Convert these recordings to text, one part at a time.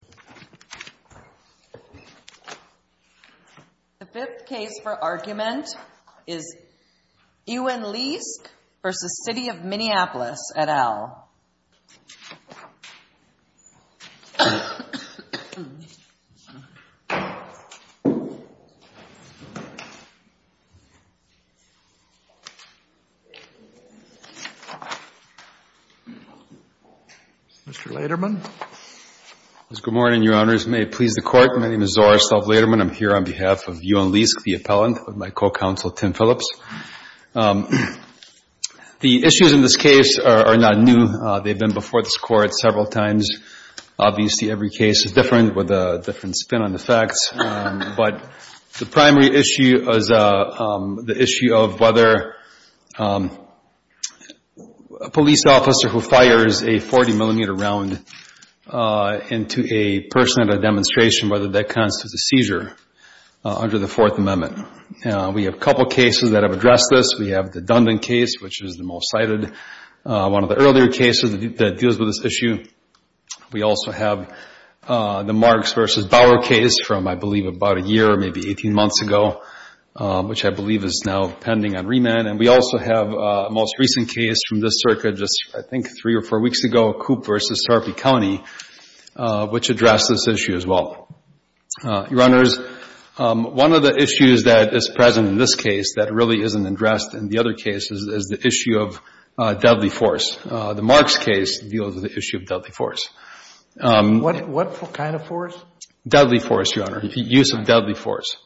of the city of Minneapolis. The fifth case for argument is Ewan Leask v. City of Minneapolis et al. Mr. Laterman. Good morning, Your Honors. May it please the Court, my name is Zoris L. Laterman. I'm here on behalf of Ewan Leask, the appellant, with my co-counsel Tim Phillips. The issues in this case are not new. They've been before this Court several times. Obviously, every case is different with a different spin on the facts. But the primary issue is the issue of whether a police officer who fires a 40-millimeter round into a person at a demonstration, whether that constitutes a seizure under the Fourth Amendment. We have a couple cases that have addressed this. We have the Dundon case, which is the most cited, one of the earlier cases that deals with this issue. We also have the Marks v. Bauer case from, I believe, about a year, maybe 18 months ago, which I believe is now pending on remand. And we also have a most recent case from this circuit just, I think, three or four weeks ago, Coop v. Starkey County, which addressed this issue as well. Your Honors, one of the issues that is present in this case that really isn't addressed in the other cases is the issue of deadly force. The Marks case deals with the issue of deadly force. What kind of force? Deadly force, Your Honor, use of deadly force.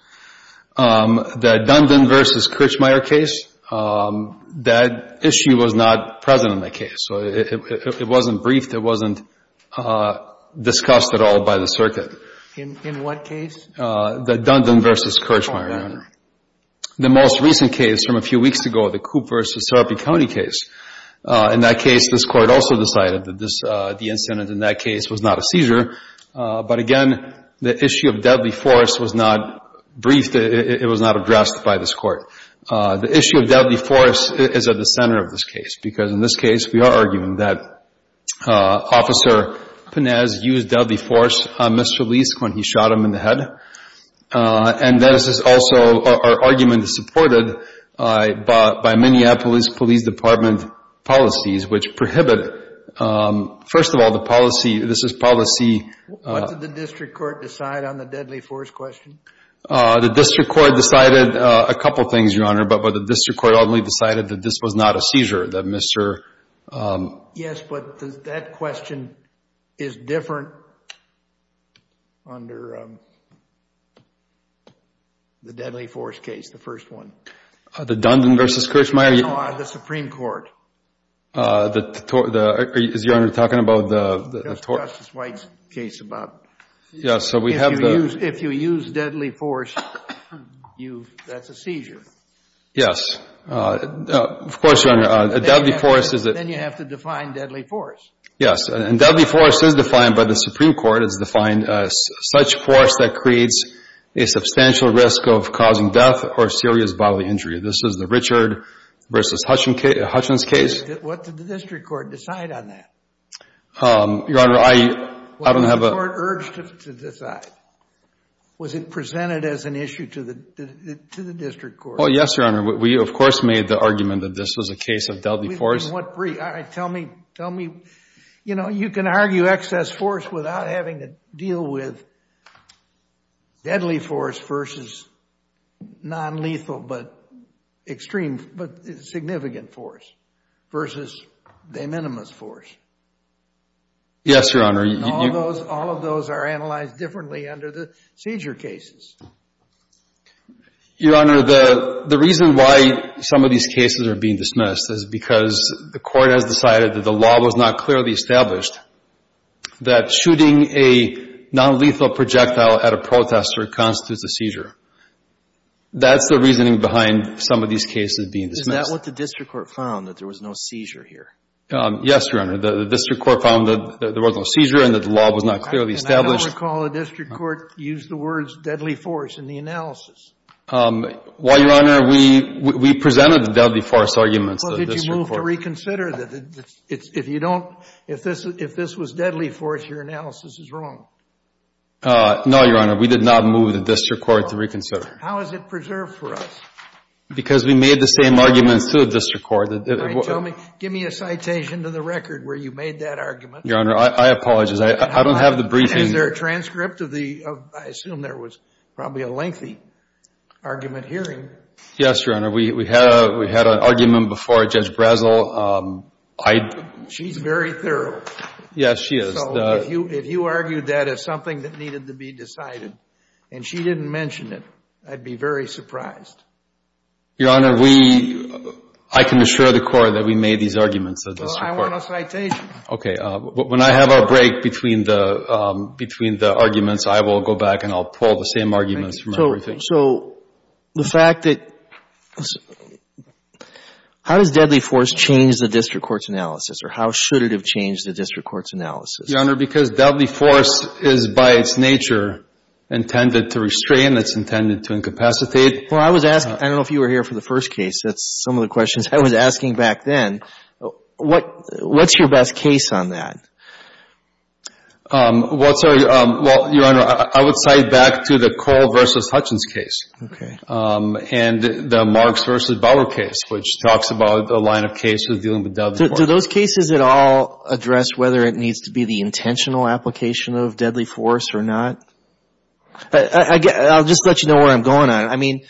The Dundon v. Kirchmeier case, that issue was not present in that case. It wasn't briefed. It wasn't discussed at all by the circuit. In what case? The Dundon v. Kirchmeier, Your Honor. The most recent case from a few weeks ago, the Coop v. Starkey County case. In that case, this Court also decided that the incident in that case was not a seizure. But again, the issue of deadly force was not briefed. It was not addressed by this Court. The issue of deadly force is at the center of this case because, in this case, we are arguing that Officer Pinez used deadly force on Mr. Leisk when he shot him in the head. And this is also, our argument is supported by Minneapolis Police Department policies which prohibit, first of all, the policy, this is policy What did the district court decide on the deadly force question? The district court decided a couple things, Your Honor, but the district court only decided that this was not a seizure, that Mr. Yes, but that question is different under the deadly force case, the first one. The Dundon v. Kirchmeier? No, the Supreme Court. Justice White's case about if you use deadly force, that's a seizure. Yes, of course, Your Honor. Then you have to define deadly force. Yes, and deadly force is defined by the Supreme Court as such force that creates a substantial risk of causing death or serious bodily injury. This is the Richard v. Hutchins case. What did the district court decide on that? Your Honor, I don't have a... Was it presented as an issue to the district court? Well, yes, Your Honor. We, of course, made the argument that this was a case of deadly force. Tell me, you know, you can argue excess force without having to deal with deadly force versus non-lethal but significant force versus de minimis force. Yes, Your Honor. All of those are analyzed differently under the seizure cases. Your Honor, the reason why some of these cases are being dismissed is because the court has decided that the law was not clearly established that shooting a non-lethal projectile at a protester constitutes a seizure. That's the reasoning behind some of these cases being dismissed. Is that what the district court found, that there was no seizure here? Yes, Your Honor. The district court found that there was no seizure and that the law was not clearly established. I don't recall the district court use the words deadly force in the analysis. Well, Your Honor, we presented the deadly force arguments to the district court. Well, did you move to reconsider? If this was deadly force, your analysis is wrong. No, Your Honor. We did not move the district court to reconsider. How is it preserved for us? Because we made the same arguments to the district court. Give me a citation to the record where you made that argument. Your Honor, I apologize. I don't have the briefing. Is there a transcript of the, I assume there was probably a lengthy argument hearing? Yes, Your Honor. We had an argument before Judge Brazel. She's very thorough. Yes, she is. So if you argued that as something that needed to be decided and she didn't mention it, I'd be very surprised. Your Honor, we I can assure the court that we made these arguments at the district court. Well, I want a citation. Okay. When I have our break between the arguments, I will go back and I'll pull the same arguments from everything. So the fact that how does deadly force change the district court's analysis or how should it have changed the district court's analysis? Your Honor, because deadly force is by its nature intended to restrain. It's intended to incapacitate. Well, I was asking I don't know if you were here for the first case. That's some of the questions I was asking back then. What's your best case on that? Well, Your Honor, I would cite back to the Cole v. Hutchins case. Okay. And the Marks v. Bauer case, which talks about a line of cases dealing with deadly force. Do those cases at all address whether it needs to be the intentional application of deadly force or not? I'll just let you know where I'm going on. I mean,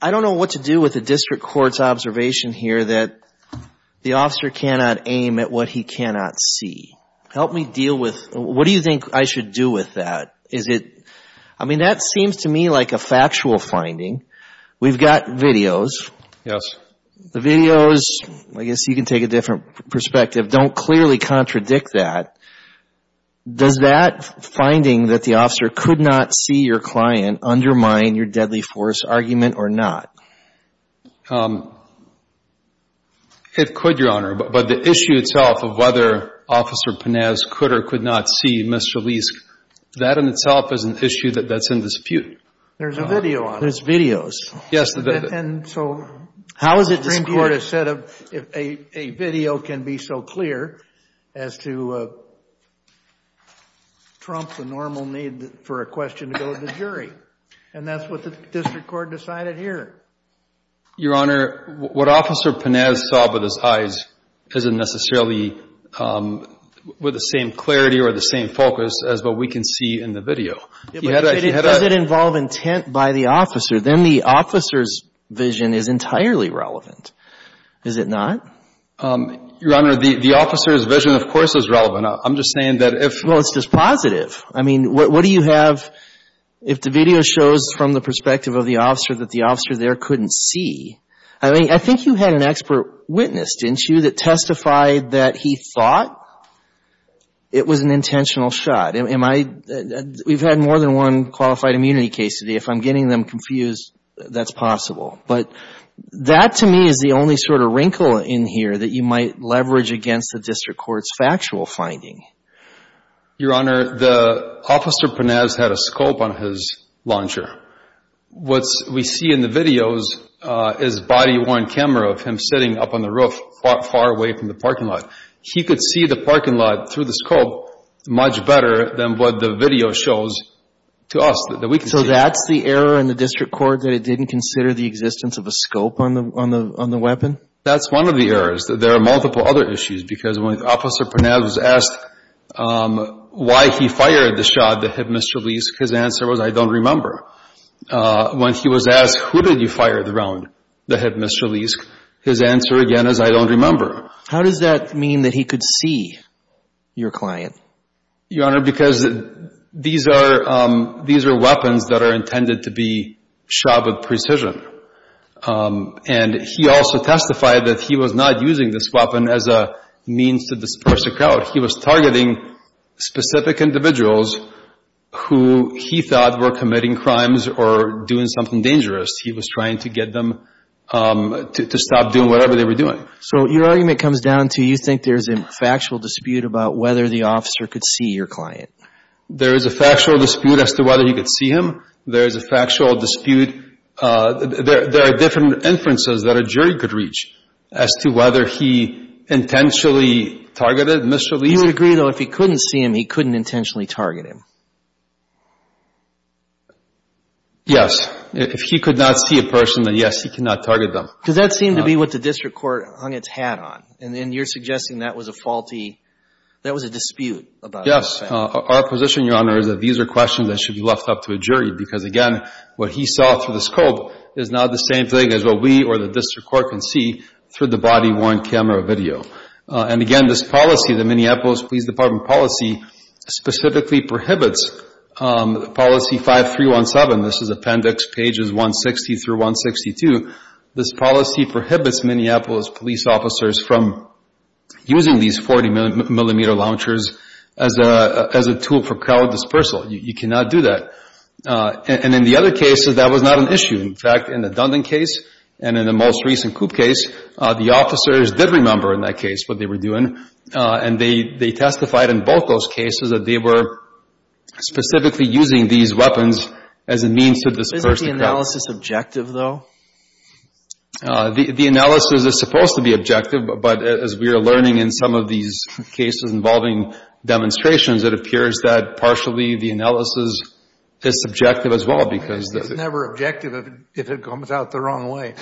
I don't know what to do with the district court's observation here that the officer cannot aim at what he cannot see. Help me deal with, what do you think I should do with that? Is it, I mean, that seems to me like a factual finding. We've got videos. Yes. The videos, I guess you can take a different perspective, don't clearly contradict that. Does that finding that the officer could not see your client undermine your deadly force argument or not? It could, Your Honor. But the issue itself of whether Officer Panez could or could not see Mr. Leesk, that in itself is an issue that's in dispute. There's a video on it. There's videos. Yes. And so how is it this Court has said a video can be so clear as to trump the normal need for a question to go to the jury? And that's what the district court decided here. Your Honor, what Officer Panez saw with his eyes isn't necessarily with the same clarity or the same focus as what we can see in the video. If it doesn't involve intent by the officer, then the officer's vision is entirely relevant. Is it not? Your Honor, the officer's vision, of course, is relevant. I'm just saying that if Well, it's just positive. I mean, what do you have if the video shows from the perspective of the officer that the officer there couldn't see? I think you had an expert witness, didn't you, that testified that he thought it was an intentional shot. We've had more than one qualified immunity case today. If I'm getting them confused, that's possible. But that, to me, is the only sort of wrinkle in here that you might leverage against the district court's factual finding. Your Honor, the officer Panez had a scope on his launcher. What we see in the videos is a body-worn camera of him sitting up on the roof far away from the parking lot. He could see the parking lot through the scope much better than what the video shows to us, that we can see. So that's the error in the district court, that it didn't consider the existence of a scope on the weapon? That's one of the errors. There are multiple other issues, because when Officer Panez was asked why he fired the shot that had misreleased, his answer was, I don't remember. When he was asked, who did you fire the round that had misreleased, his answer again is, I don't remember. How does that mean that he could see your client? Your Honor, because these are weapons that are intended to be shot with precision. And he also testified that he was not using this weapon as a means to disperse a crowd. He was targeting specific individuals who he thought were committing crimes or doing something dangerous. He was trying to get them to stop doing whatever they were doing. So your argument comes down to, you think there's a factual dispute about whether the officer could see your client? There is a factual dispute as to whether he could see him. There is a factual dispute there are different inferences that a jury could reach as to whether he intentionally targeted, misreleased. You would agree, though, if he couldn't see him, he couldn't intentionally target him? Yes. If he could not see a person, then yes, he could not target them. Because that seemed to be what the district court hung its hat on. And then you're suggesting that was a faulty, that was a dispute about that. Yes. Our position, Your Honor, is that these are questions that should be left up to a jury. Because again, what he saw through the scope is not the same thing as what we or the district court can see through the body-worn camera video. And again, this policy, the Minneapolis Police Department policy, specifically prohibits policy 5317, this is appendix pages 160 through 162, this policy prohibits Minneapolis police officers from using these 40-millimeter launchers as a tool for crowd dispersal. You cannot do that. And in the other cases, that was not an issue. In fact, in the Coop case, the officers did remember in that case what they were doing. And they testified in both those cases that they were specifically using these weapons as a means to disperse the crowd. Isn't the analysis objective, though? The analysis is supposed to be objective. But as we are learning in some of these cases involving demonstrations, it appears that partially the analysis is subjective as well. It's never objective if it comes out the wrong way.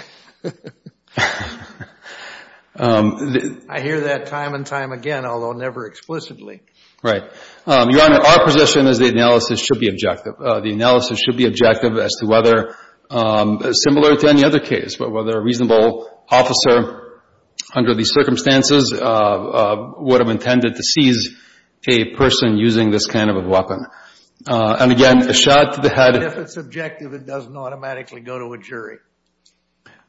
I hear that time and time again, although never explicitly. Right. Your Honor, our position is the analysis should be objective. The analysis should be objective as to whether, similar to any other case, but whether a reasonable officer under these circumstances would have intended to seize a person using this kind of a weapon. And again, a shot to the head... But if it's subjective, it doesn't automatically go to a jury.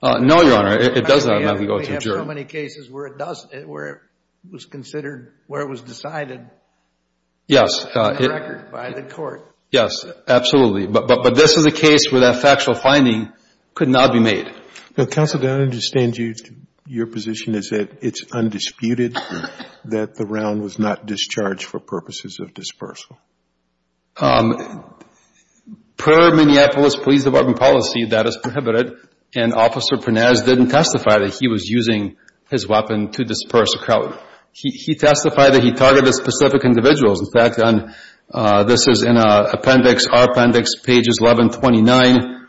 No, Your Honor. It doesn't automatically go to a jury. We have so many cases where it does, where it was considered where it was decided on record by the court. Yes, absolutely. But this is a case where that factual finding could not be made. Counsel, do I understand your position is that it's undisputed that the round was not discharged for purposes of dispersal? Per Minneapolis Police Department policy, that is prohibited. And Officer Pernas didn't testify that he was using his weapon to disperse a crowd. He testified that he targeted specific individuals. In fact, this is in Appendix, our Appendix, pages 1129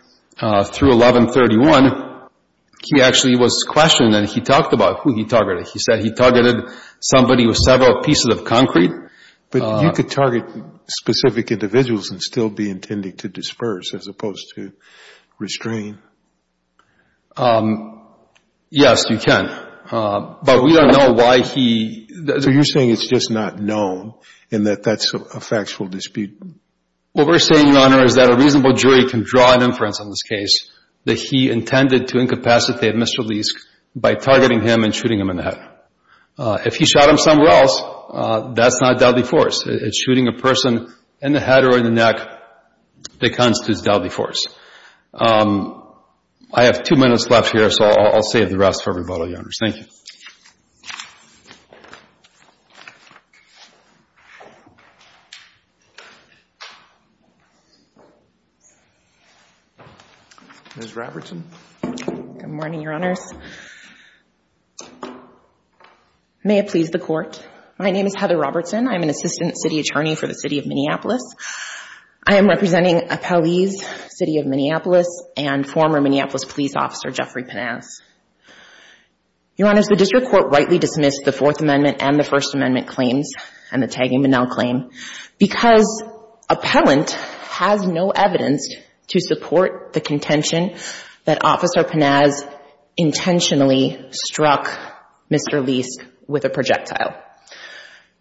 through 1131, he actually was questioned and he talked about who he targeted. He said he targeted somebody with several pieces of concrete. But you could target specific individuals and still be intending to disperse as opposed to restrain? Yes, you can. But we don't know why he... So you're saying it's just not known and that that's a factual dispute? What we're saying, Your Honor, is that a reasonable jury can draw an inference on this case that he intended to incapacitate Mr. Leisk by targeting him and shooting him in the head. If he shot him somewhere else, that's not deadly force. It's shooting a person in the head or in the neck that constitutes deadly force. I have two minutes left here, so I'll save the rest for rebuttal, Your Honor. Thank you. Ms. Robertson. Good morning, Your Honors. May it please the Court. My name is Heather Robertson. I'm an Assistant City Attorney for the City of Minneapolis. I am representing appellees, City of Minneapolis and former Minneapolis police officer Jeffrey Panaz. Your Honors, the district court rightly dismissed the Fourth Amendment and the First Amendment claims and the tagging Bonnell claim because appellant has no evidence to support the contention that Officer Panaz intentionally struck Mr. Leisk with a projectile.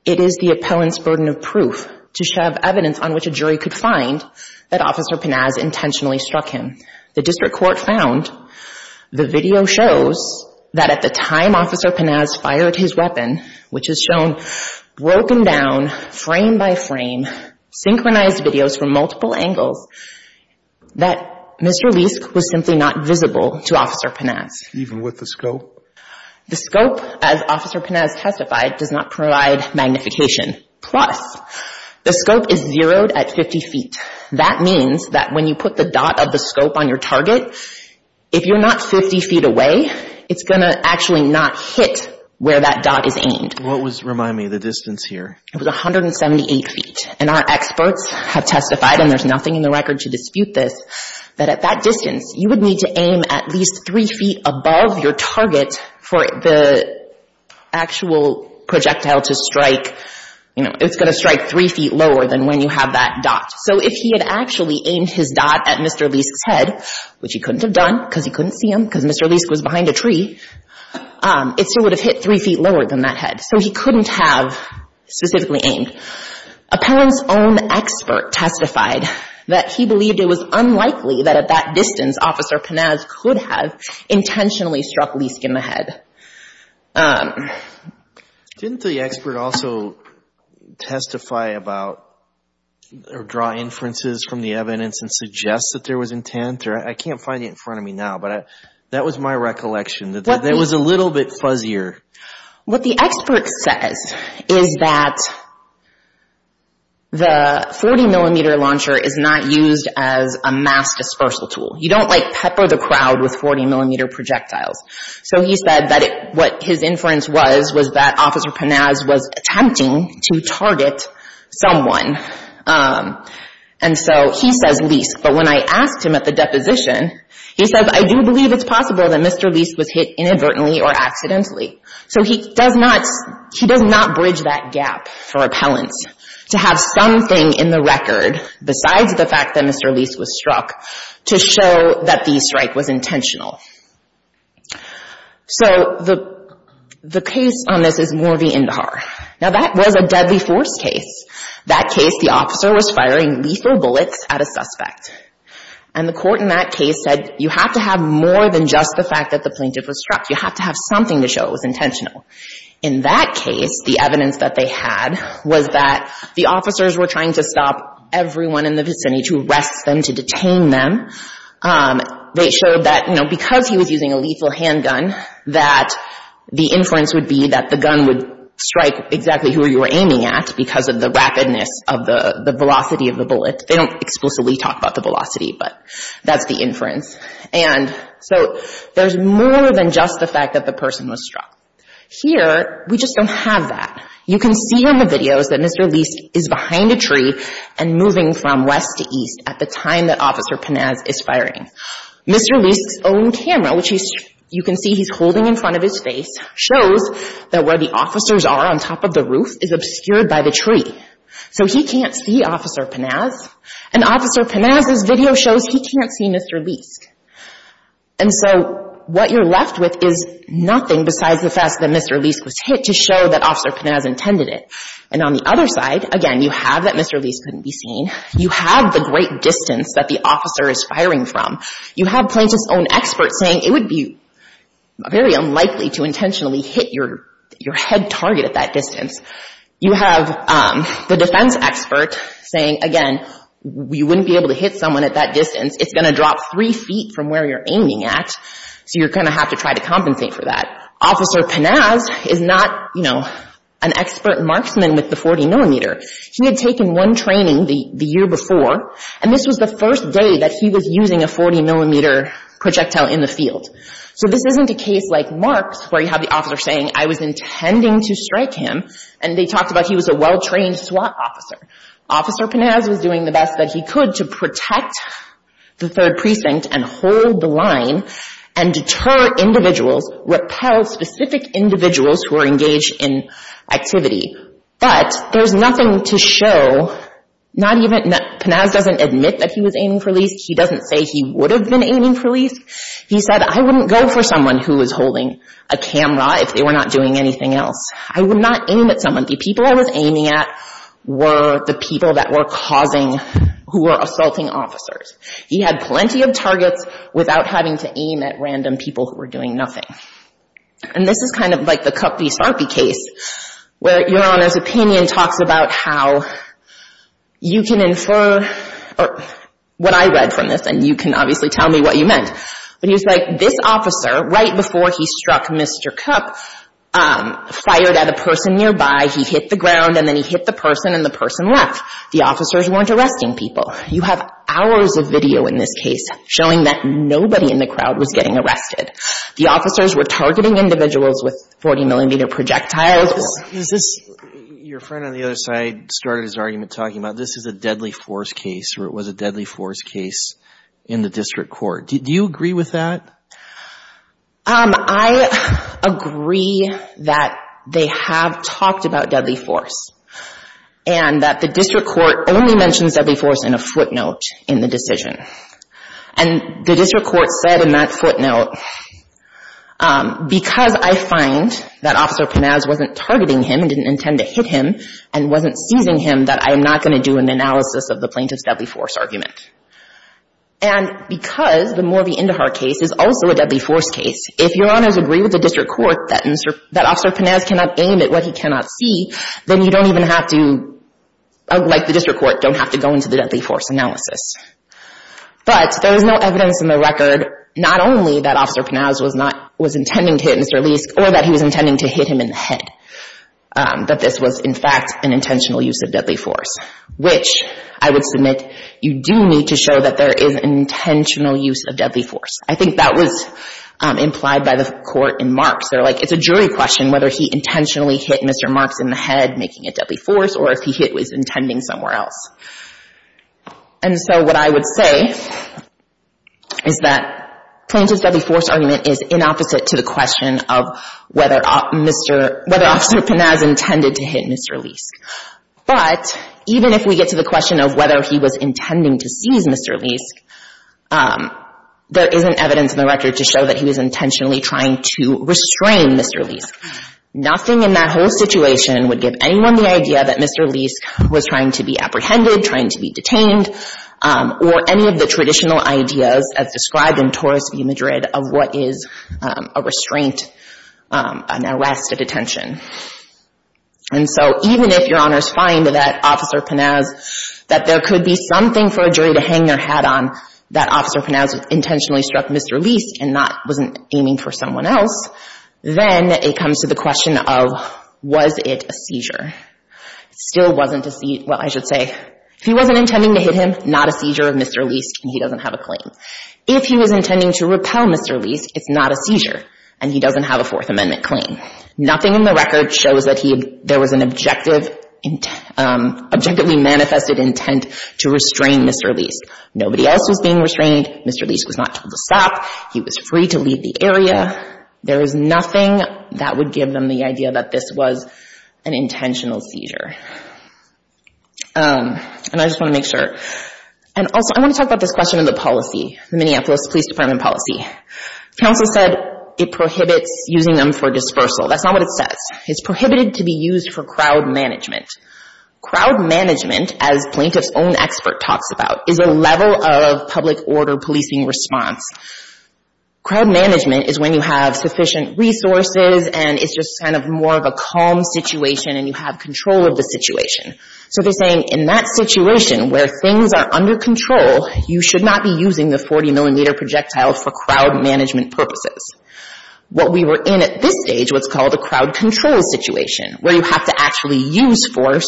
It is the appellant's burden of proof to have evidence on which a jury could find that Officer Panaz intentionally struck him. The district court found the video shows that at the time Officer Panaz fired his weapon, which is shown broken down frame by frame, synchronized videos from multiple angles, that Mr. Leisk was simply not visible to Officer Panaz. Even with the scope? The scope, as Officer Panaz testified, does not provide magnification. Plus, the scope is zeroed at 50 feet. That means that when you put the dot of the scope on your target, if you're not 50 feet away, it's going to actually not hit where that dot is aimed. What was, remind me, the distance here? It was 178 feet, and our experts have testified, and there's nothing in the record to dispute this, that at that distance you would need to aim at least 3 feet above your target for the actual projectile to strike, you know, it's going to strike 3 feet lower than when you have that dot. So if he had actually aimed his dot at Mr. Leisk's head, which he couldn't have done because he couldn't see him because Mr. Leisk was behind a tree, it still would have hit 3 feet lower than that head. So he couldn't have specifically aimed. Appellant's own expert testified that he believed it was unlikely that at that distance Officer Panaz could have intentionally struck Leisk in the head. Didn't the expert also testify about or draw inferences from the evidence and suggest that there was intent? I can't find it in front of me now, but that was my recollection. It was a little bit fuzzier. What the expert says is that the 40mm launcher is not used as a mass dispersal tool. You don't like pepper the crowd with 40mm projectiles. So he said that what his inference was was that Officer Panaz was attempting to target someone. And so he says Leisk, but when I asked him at the deposition, he says, I do believe it's possible that Mr. Leisk was hit inadvertently or accidentally. So he does not bridge that gap for appellants to have something in the record besides the fact that Mr. Leisk was struck to show that the strike was intentional. So the case on this is Morvey Indahar. Now that was a deadly force case. That case, the officer was firing lethal bullets at a suspect. And the court in that case said, you have to have more than just the fact that the victim was struck. You have to have something to show it was intentional. In that case, the evidence that they had was that the officers were trying to stop everyone in the vicinity to arrest them, to detain them. They showed that, you know, because he was using a lethal handgun, that the inference would be that the gun would strike exactly who you were aiming at because of the rapidness of the velocity of the bullet. They don't explicitly talk about the velocity, but that's the inference. And so there's more than just the fact that the person was struck. Here, we just don't have that. You can see on the videos that Mr. Leisk is behind a tree and moving from west to east at the time that Officer Panaz is firing. Mr. Leisk's own camera, which you can see he's holding in front of his face, shows that where the officers are on top of the roof is obscured by the tree. So he can't see Officer Panaz. And Officer Panaz's video shows he can't see Mr. Leisk. And so what you're left with is nothing besides the fact that Mr. Leisk was hit to show that Officer Panaz intended it. And on the other side, again, you have that Mr. Leisk couldn't be seen. You have the great distance that the officer is firing from. You have Plaintiff's own expert saying it would be very unlikely to intentionally hit your head target at that distance. You have the defense expert saying, again, you wouldn't be able to hit someone at that distance. It's going to drop three feet from where you're aiming at, so you're going to have to try to compensate for that. Officer Panaz is not, you know, an expert marksman with the 40 millimeter. He had taken one training the year before, and this was the first day that he was using a 40 millimeter projectile in the field. So this isn't a case like Mark's where you have the officer saying, I was intending to strike him, and they talked about he was a well-trained SWAT officer. Officer Panaz was doing the best that he could to protect the 3rd Precinct and hold the line and deter individuals, repel specific individuals who are engaged in activity. But there's nothing to show not even, Panaz doesn't admit that he was aiming for Leisk. He doesn't say he would have been aiming for Leisk. He said, I wouldn't go for someone who was holding a camera if they were not doing anything else. I would not aim at someone. The people I was aiming at were the people that were causing who were assaulting officers. He had plenty of targets without having to aim at random people who were doing nothing. And this is kind of like the Cupp v. Sarpy case where your Honor's opinion talks about how you can infer what I read from this, and you can obviously tell me what you meant. But he was like this officer, right before he struck Mr. Cupp, fired at a person nearby, he hit the ground, and then he hit the person, and the person left. The officers weren't arresting people. You have hours of video in this case showing that nobody in the crowd was getting arrested. The officers were targeting individuals with 40 millimeter projectiles. Is this, your friend on the other side started his argument talking about this is a deadly force case, or it was a deadly force case in the District Court. Do you agree with that? I agree that they have talked about deadly force, and that the District Court only mentioned deadly force in a footnote in the decision. And the District Court said in that footnote because I find that Officer Panaz wasn't targeting him and didn't intend to hit him, and wasn't seizing him, that I am not going to do an analysis of the plaintiff's deadly force argument. And because the Morvey Indahar case is also a deadly force case, if Your Honors agree with the District Court that Officer Panaz cannot aim at what he cannot see, then you don't even have to, like the District Court, don't have to go into the deadly force analysis. But there is no evidence in the record not only that Officer Panaz was not, was intending to hit Mr. Leisk, or that he was intending to hit him in the head, that this was in fact an intentional use of deadly force, which I would submit you do need to show that there is intentional use of deadly force. I think that was implied by the Court in Marks. They're like, it's a jury question whether he intentionally hit Mr. Marks in the head, making it deadly force, or if he hit what he was intending somewhere else. And so what I would say is that Plaintiff's deadly force argument is inopposite to the question of whether Officer Panaz intended to hit Mr. Leisk. But even if we get to the question of whether he was intending to seize Mr. Leisk, there isn't evidence in the record to show that he was intentionally trying to restrain Mr. Leisk. Nothing in that whole situation would give anyone the idea that Mr. Leisk was trying to be apprehended, trying to be detained, or any of the traditional ideas as described in Torres v. Madrid of what is a restraint, an arrest, a detention. And so even if Your Honor finds that Officer Panaz, that there could be something for a jury to hang their hat on, that Officer Panaz intentionally struck Mr. Leisk and wasn't aiming for someone else, then it comes to the question of was it a seizure? It still wasn't a seizure. Well, I should say, if he wasn't intending to hit him, not a seizure of Mr. Leisk, and he doesn't have a claim. If he was intending to repel Mr. Leisk, it's not a seizure, and he doesn't have a Fourth Amendment claim. Nothing in the record shows that there was an objectively manifested intent to restrain Mr. Leisk. Nobody else was being restrained. Mr. Leisk was not told to stop. He was free to leave the area. There is nothing that would give them the idea that this was an intentional seizure. And I just want to make sure. And also, I want to talk about this question of the policy, the Minneapolis Police Department policy. Counsel said it prohibits using them for dispersal. That's not what it says. It's prohibited to be used for crowd management. Crowd management, as plaintiff's own expert talks about, is a level of public order policing response. Crowd management is when you have sufficient resources and it's just kind of more of a calm situation and you have control of the situation. So they're saying in that situation where things are under control, you should not be using the 40 millimeter projectile for crowd management purposes. What we were in at this stage was called a crowd control situation where you have to actually use force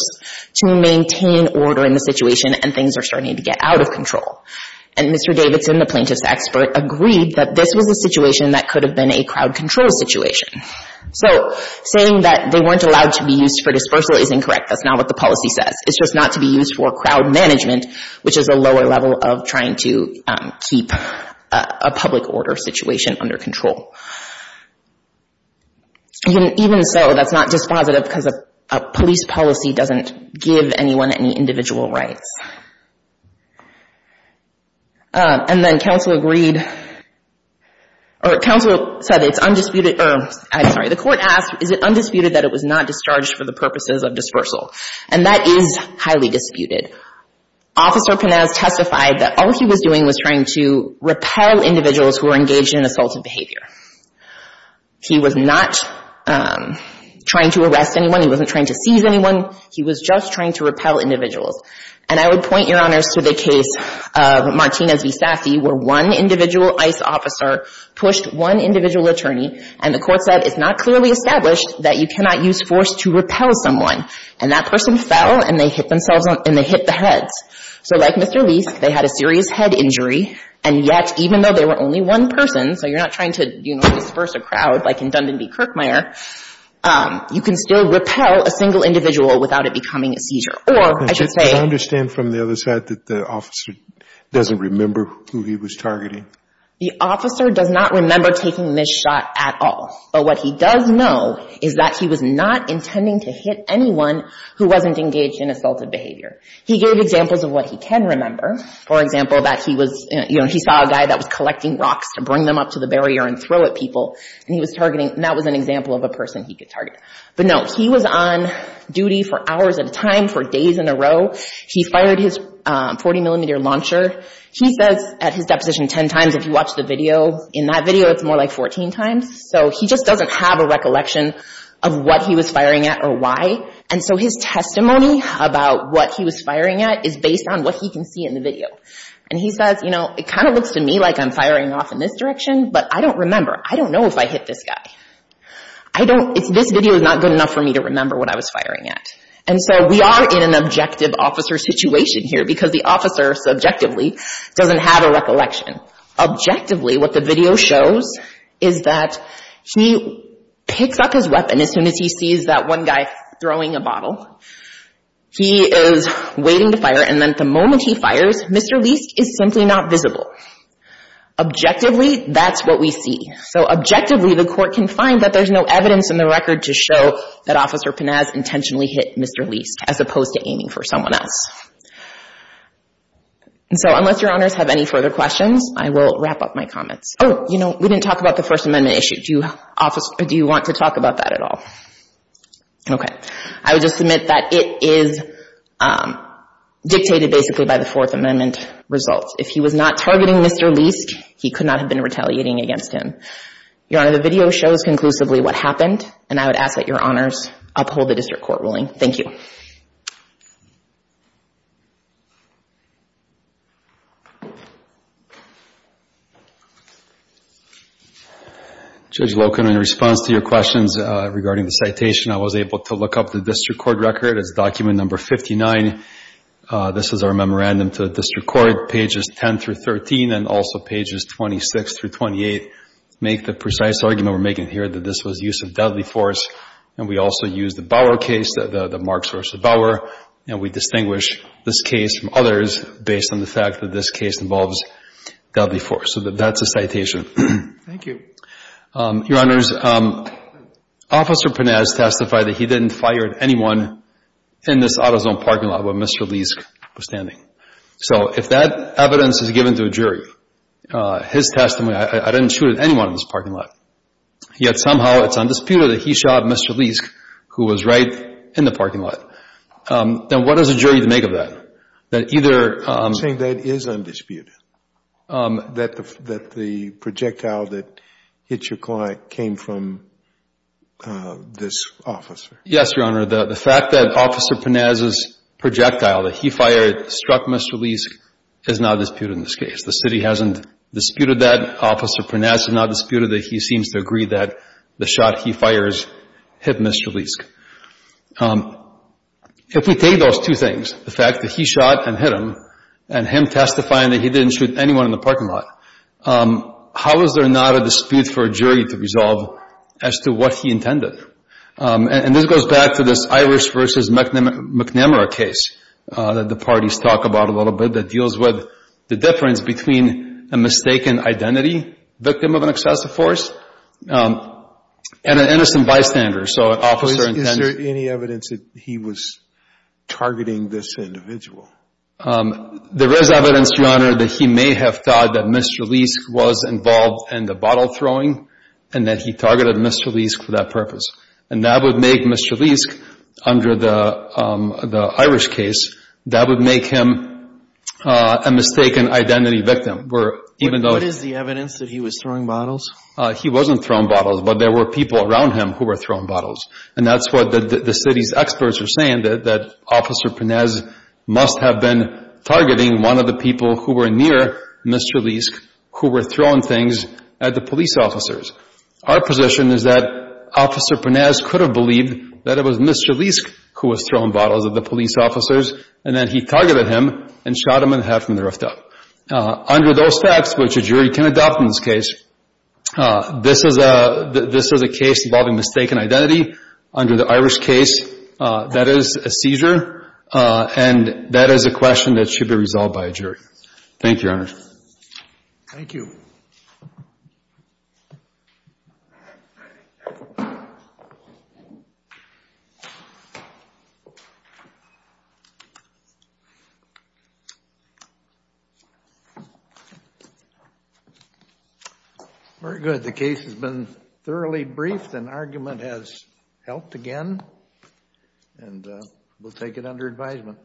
to maintain order in the situation and things are starting to get out of control. And Mr. Davidson, the plaintiff's expert, agreed that this was a situation that could have been a crowd control situation. So saying that they weren't allowed to be used for dispersal is incorrect. That's not what the policy says. It's just not to be used for crowd management which is a lower level of trying to keep a public order situation under control. Even so, that's not dispositive because a police policy doesn't give anyone any individual rights. And then counsel agreed or counsel said it's undisputed the court asked is it undisputed that it was not discharged for the purposes of dispersal? And that is highly disputed. Officer Panez testified that all he was doing was trying to repel individuals who were engaged in assaulted behavior. He was not trying to arrest anyone. He wasn't trying to seize anyone. He was just trying to repel individuals. And I would point your honors to the case of Martinez v. Safi where one individual ICE officer pushed one individual attorney and the court said it's not clearly established that you cannot use force to repel someone. And that person fell and they hit themselves and they hit the heads. So like Mr. Leis, they had a serious head injury and yet even though they were only one person, so you're not trying to disperse a crowd like in Dundon v. Kirkmeyer, you can still repel a single individual without it becoming a seizure. Or I should say Do I understand from the other side that the officer doesn't remember who he was targeting? The officer does not remember taking this shot at all. But what he does know is that he was not intending to hit anyone who wasn't engaged in assaulted behavior. He gave examples of what he can remember. For example, that he saw a guy that was collecting rocks to bring them up to the barrier and throw at people. And that was an example of a person he could target. But no, he was on duty for hours at a time for days in a row. He fired his 40mm launcher. He says at his deposition 10 times. If you watch the video, in that video it's more like 14 times. So he just doesn't have a recollection of what he was firing at or why. And so his testimony about what he was firing at is based on what he can see in the video. And he says, you know, it kind of looks to me like I'm firing off in this direction, but I don't remember. I don't know if I hit this guy. This video is not good enough for me to remember what I was firing at. And so we are in an objective officer situation here because the officer, subjectively, doesn't have a recollection. Objectively, what the video shows is that he picks up his weapon as soon as he sees that one guy throwing a bottle. He is waiting to fire. And then the moment he fires, Mr. Leisk is simply not visible. Objectively, that's what we see. So objectively, the court can find that there's no evidence in the record to show that Officer Pinaz intentionally hit Mr. Leisk as opposed to aiming for someone else. And so unless your honors have any further questions, I will wrap up my comments. Oh, you know, we didn't talk about the First Amendment issue. Do you want to talk about that at all? Okay. I would just submit that it is dictated basically by the Fourth Amendment results. If he was not targeting Mr. Leisk, he could not have been retaliating against him. Your honor, the video shows conclusively what happened, and I would ask that your honors uphold the district court ruling. Thank you. Judge Loken, in response to your questions regarding the citation, I was able to look up the district court record. It's document number 59. This is our memorandum to the district court. Pages 10 through 13, and also pages 26 through 28 make the precise argument we're making here that this was use of deadly force. And we also use the Bauer case, the Marks v. Bauer, and we distinguish this case from others based on the fact that this case involves deadly force. So that's a citation. Thank you. Your honors, Officer Panaz testified that he didn't fire at anyone in this AutoZone parking lot where Mr. Leisk was standing. So if that evidence is given to a jury, his testimony, I didn't shoot at anyone in this parking lot. Yet somehow it's undisputed that he shot Mr. Leisk, who was right in the parking lot. Then what does a jury make of that? That either I'm saying that is undisputed, that the projectile that hit your client came from this officer. Yes, Your Honor. The fact that Officer Panaz's projectile that he fired struck Mr. Leisk is not disputed in this case. The city hasn't disputed that. Officer Panaz has not disputed that he seems to agree that the shot he fires hit Mr. Leisk. If we take those two things, the fact that he shot and hit him, and him testifying that he didn't shoot anyone in the parking lot, how is there not a dispute for a jury to resolve as to what he intended? And this goes back to this Irish v. McNamara case that the parties talk about a little bit that deals with the difference between a mistaken identity, victim of an excessive force, and an innocent bystander. Is there any evidence that he was targeting this individual? There is evidence, Your Honor, that he may have thought that Mr. Leisk was involved in the bottle throwing, and that he targeted Mr. Leisk for that purpose. And that would make Mr. Leisk, under the Irish case, that would make him a mistaken identity victim. What is the evidence that he was throwing bottles? He wasn't throwing bottles, but there were people around him who were throwing bottles. And that's what the city's experts are saying, that Officer Panez must have been targeting one of the people who were near Mr. Leisk, who were throwing things at the police officers. Our position is that Officer Panez could have believed that it was Mr. Leisk who was throwing bottles at the police officers, and that he targeted him and shot him in the head from the rooftop. Under those facts, which a jury can adopt in this case, this is a case involving mistaken identity. Under the Irish case, that is a seizure, and that is a question that should be resolved by a jury. Thank you, Your Honor. Thank you. Very good. The case has been thoroughly briefed, and argument has helped again. And we'll take it under advisement.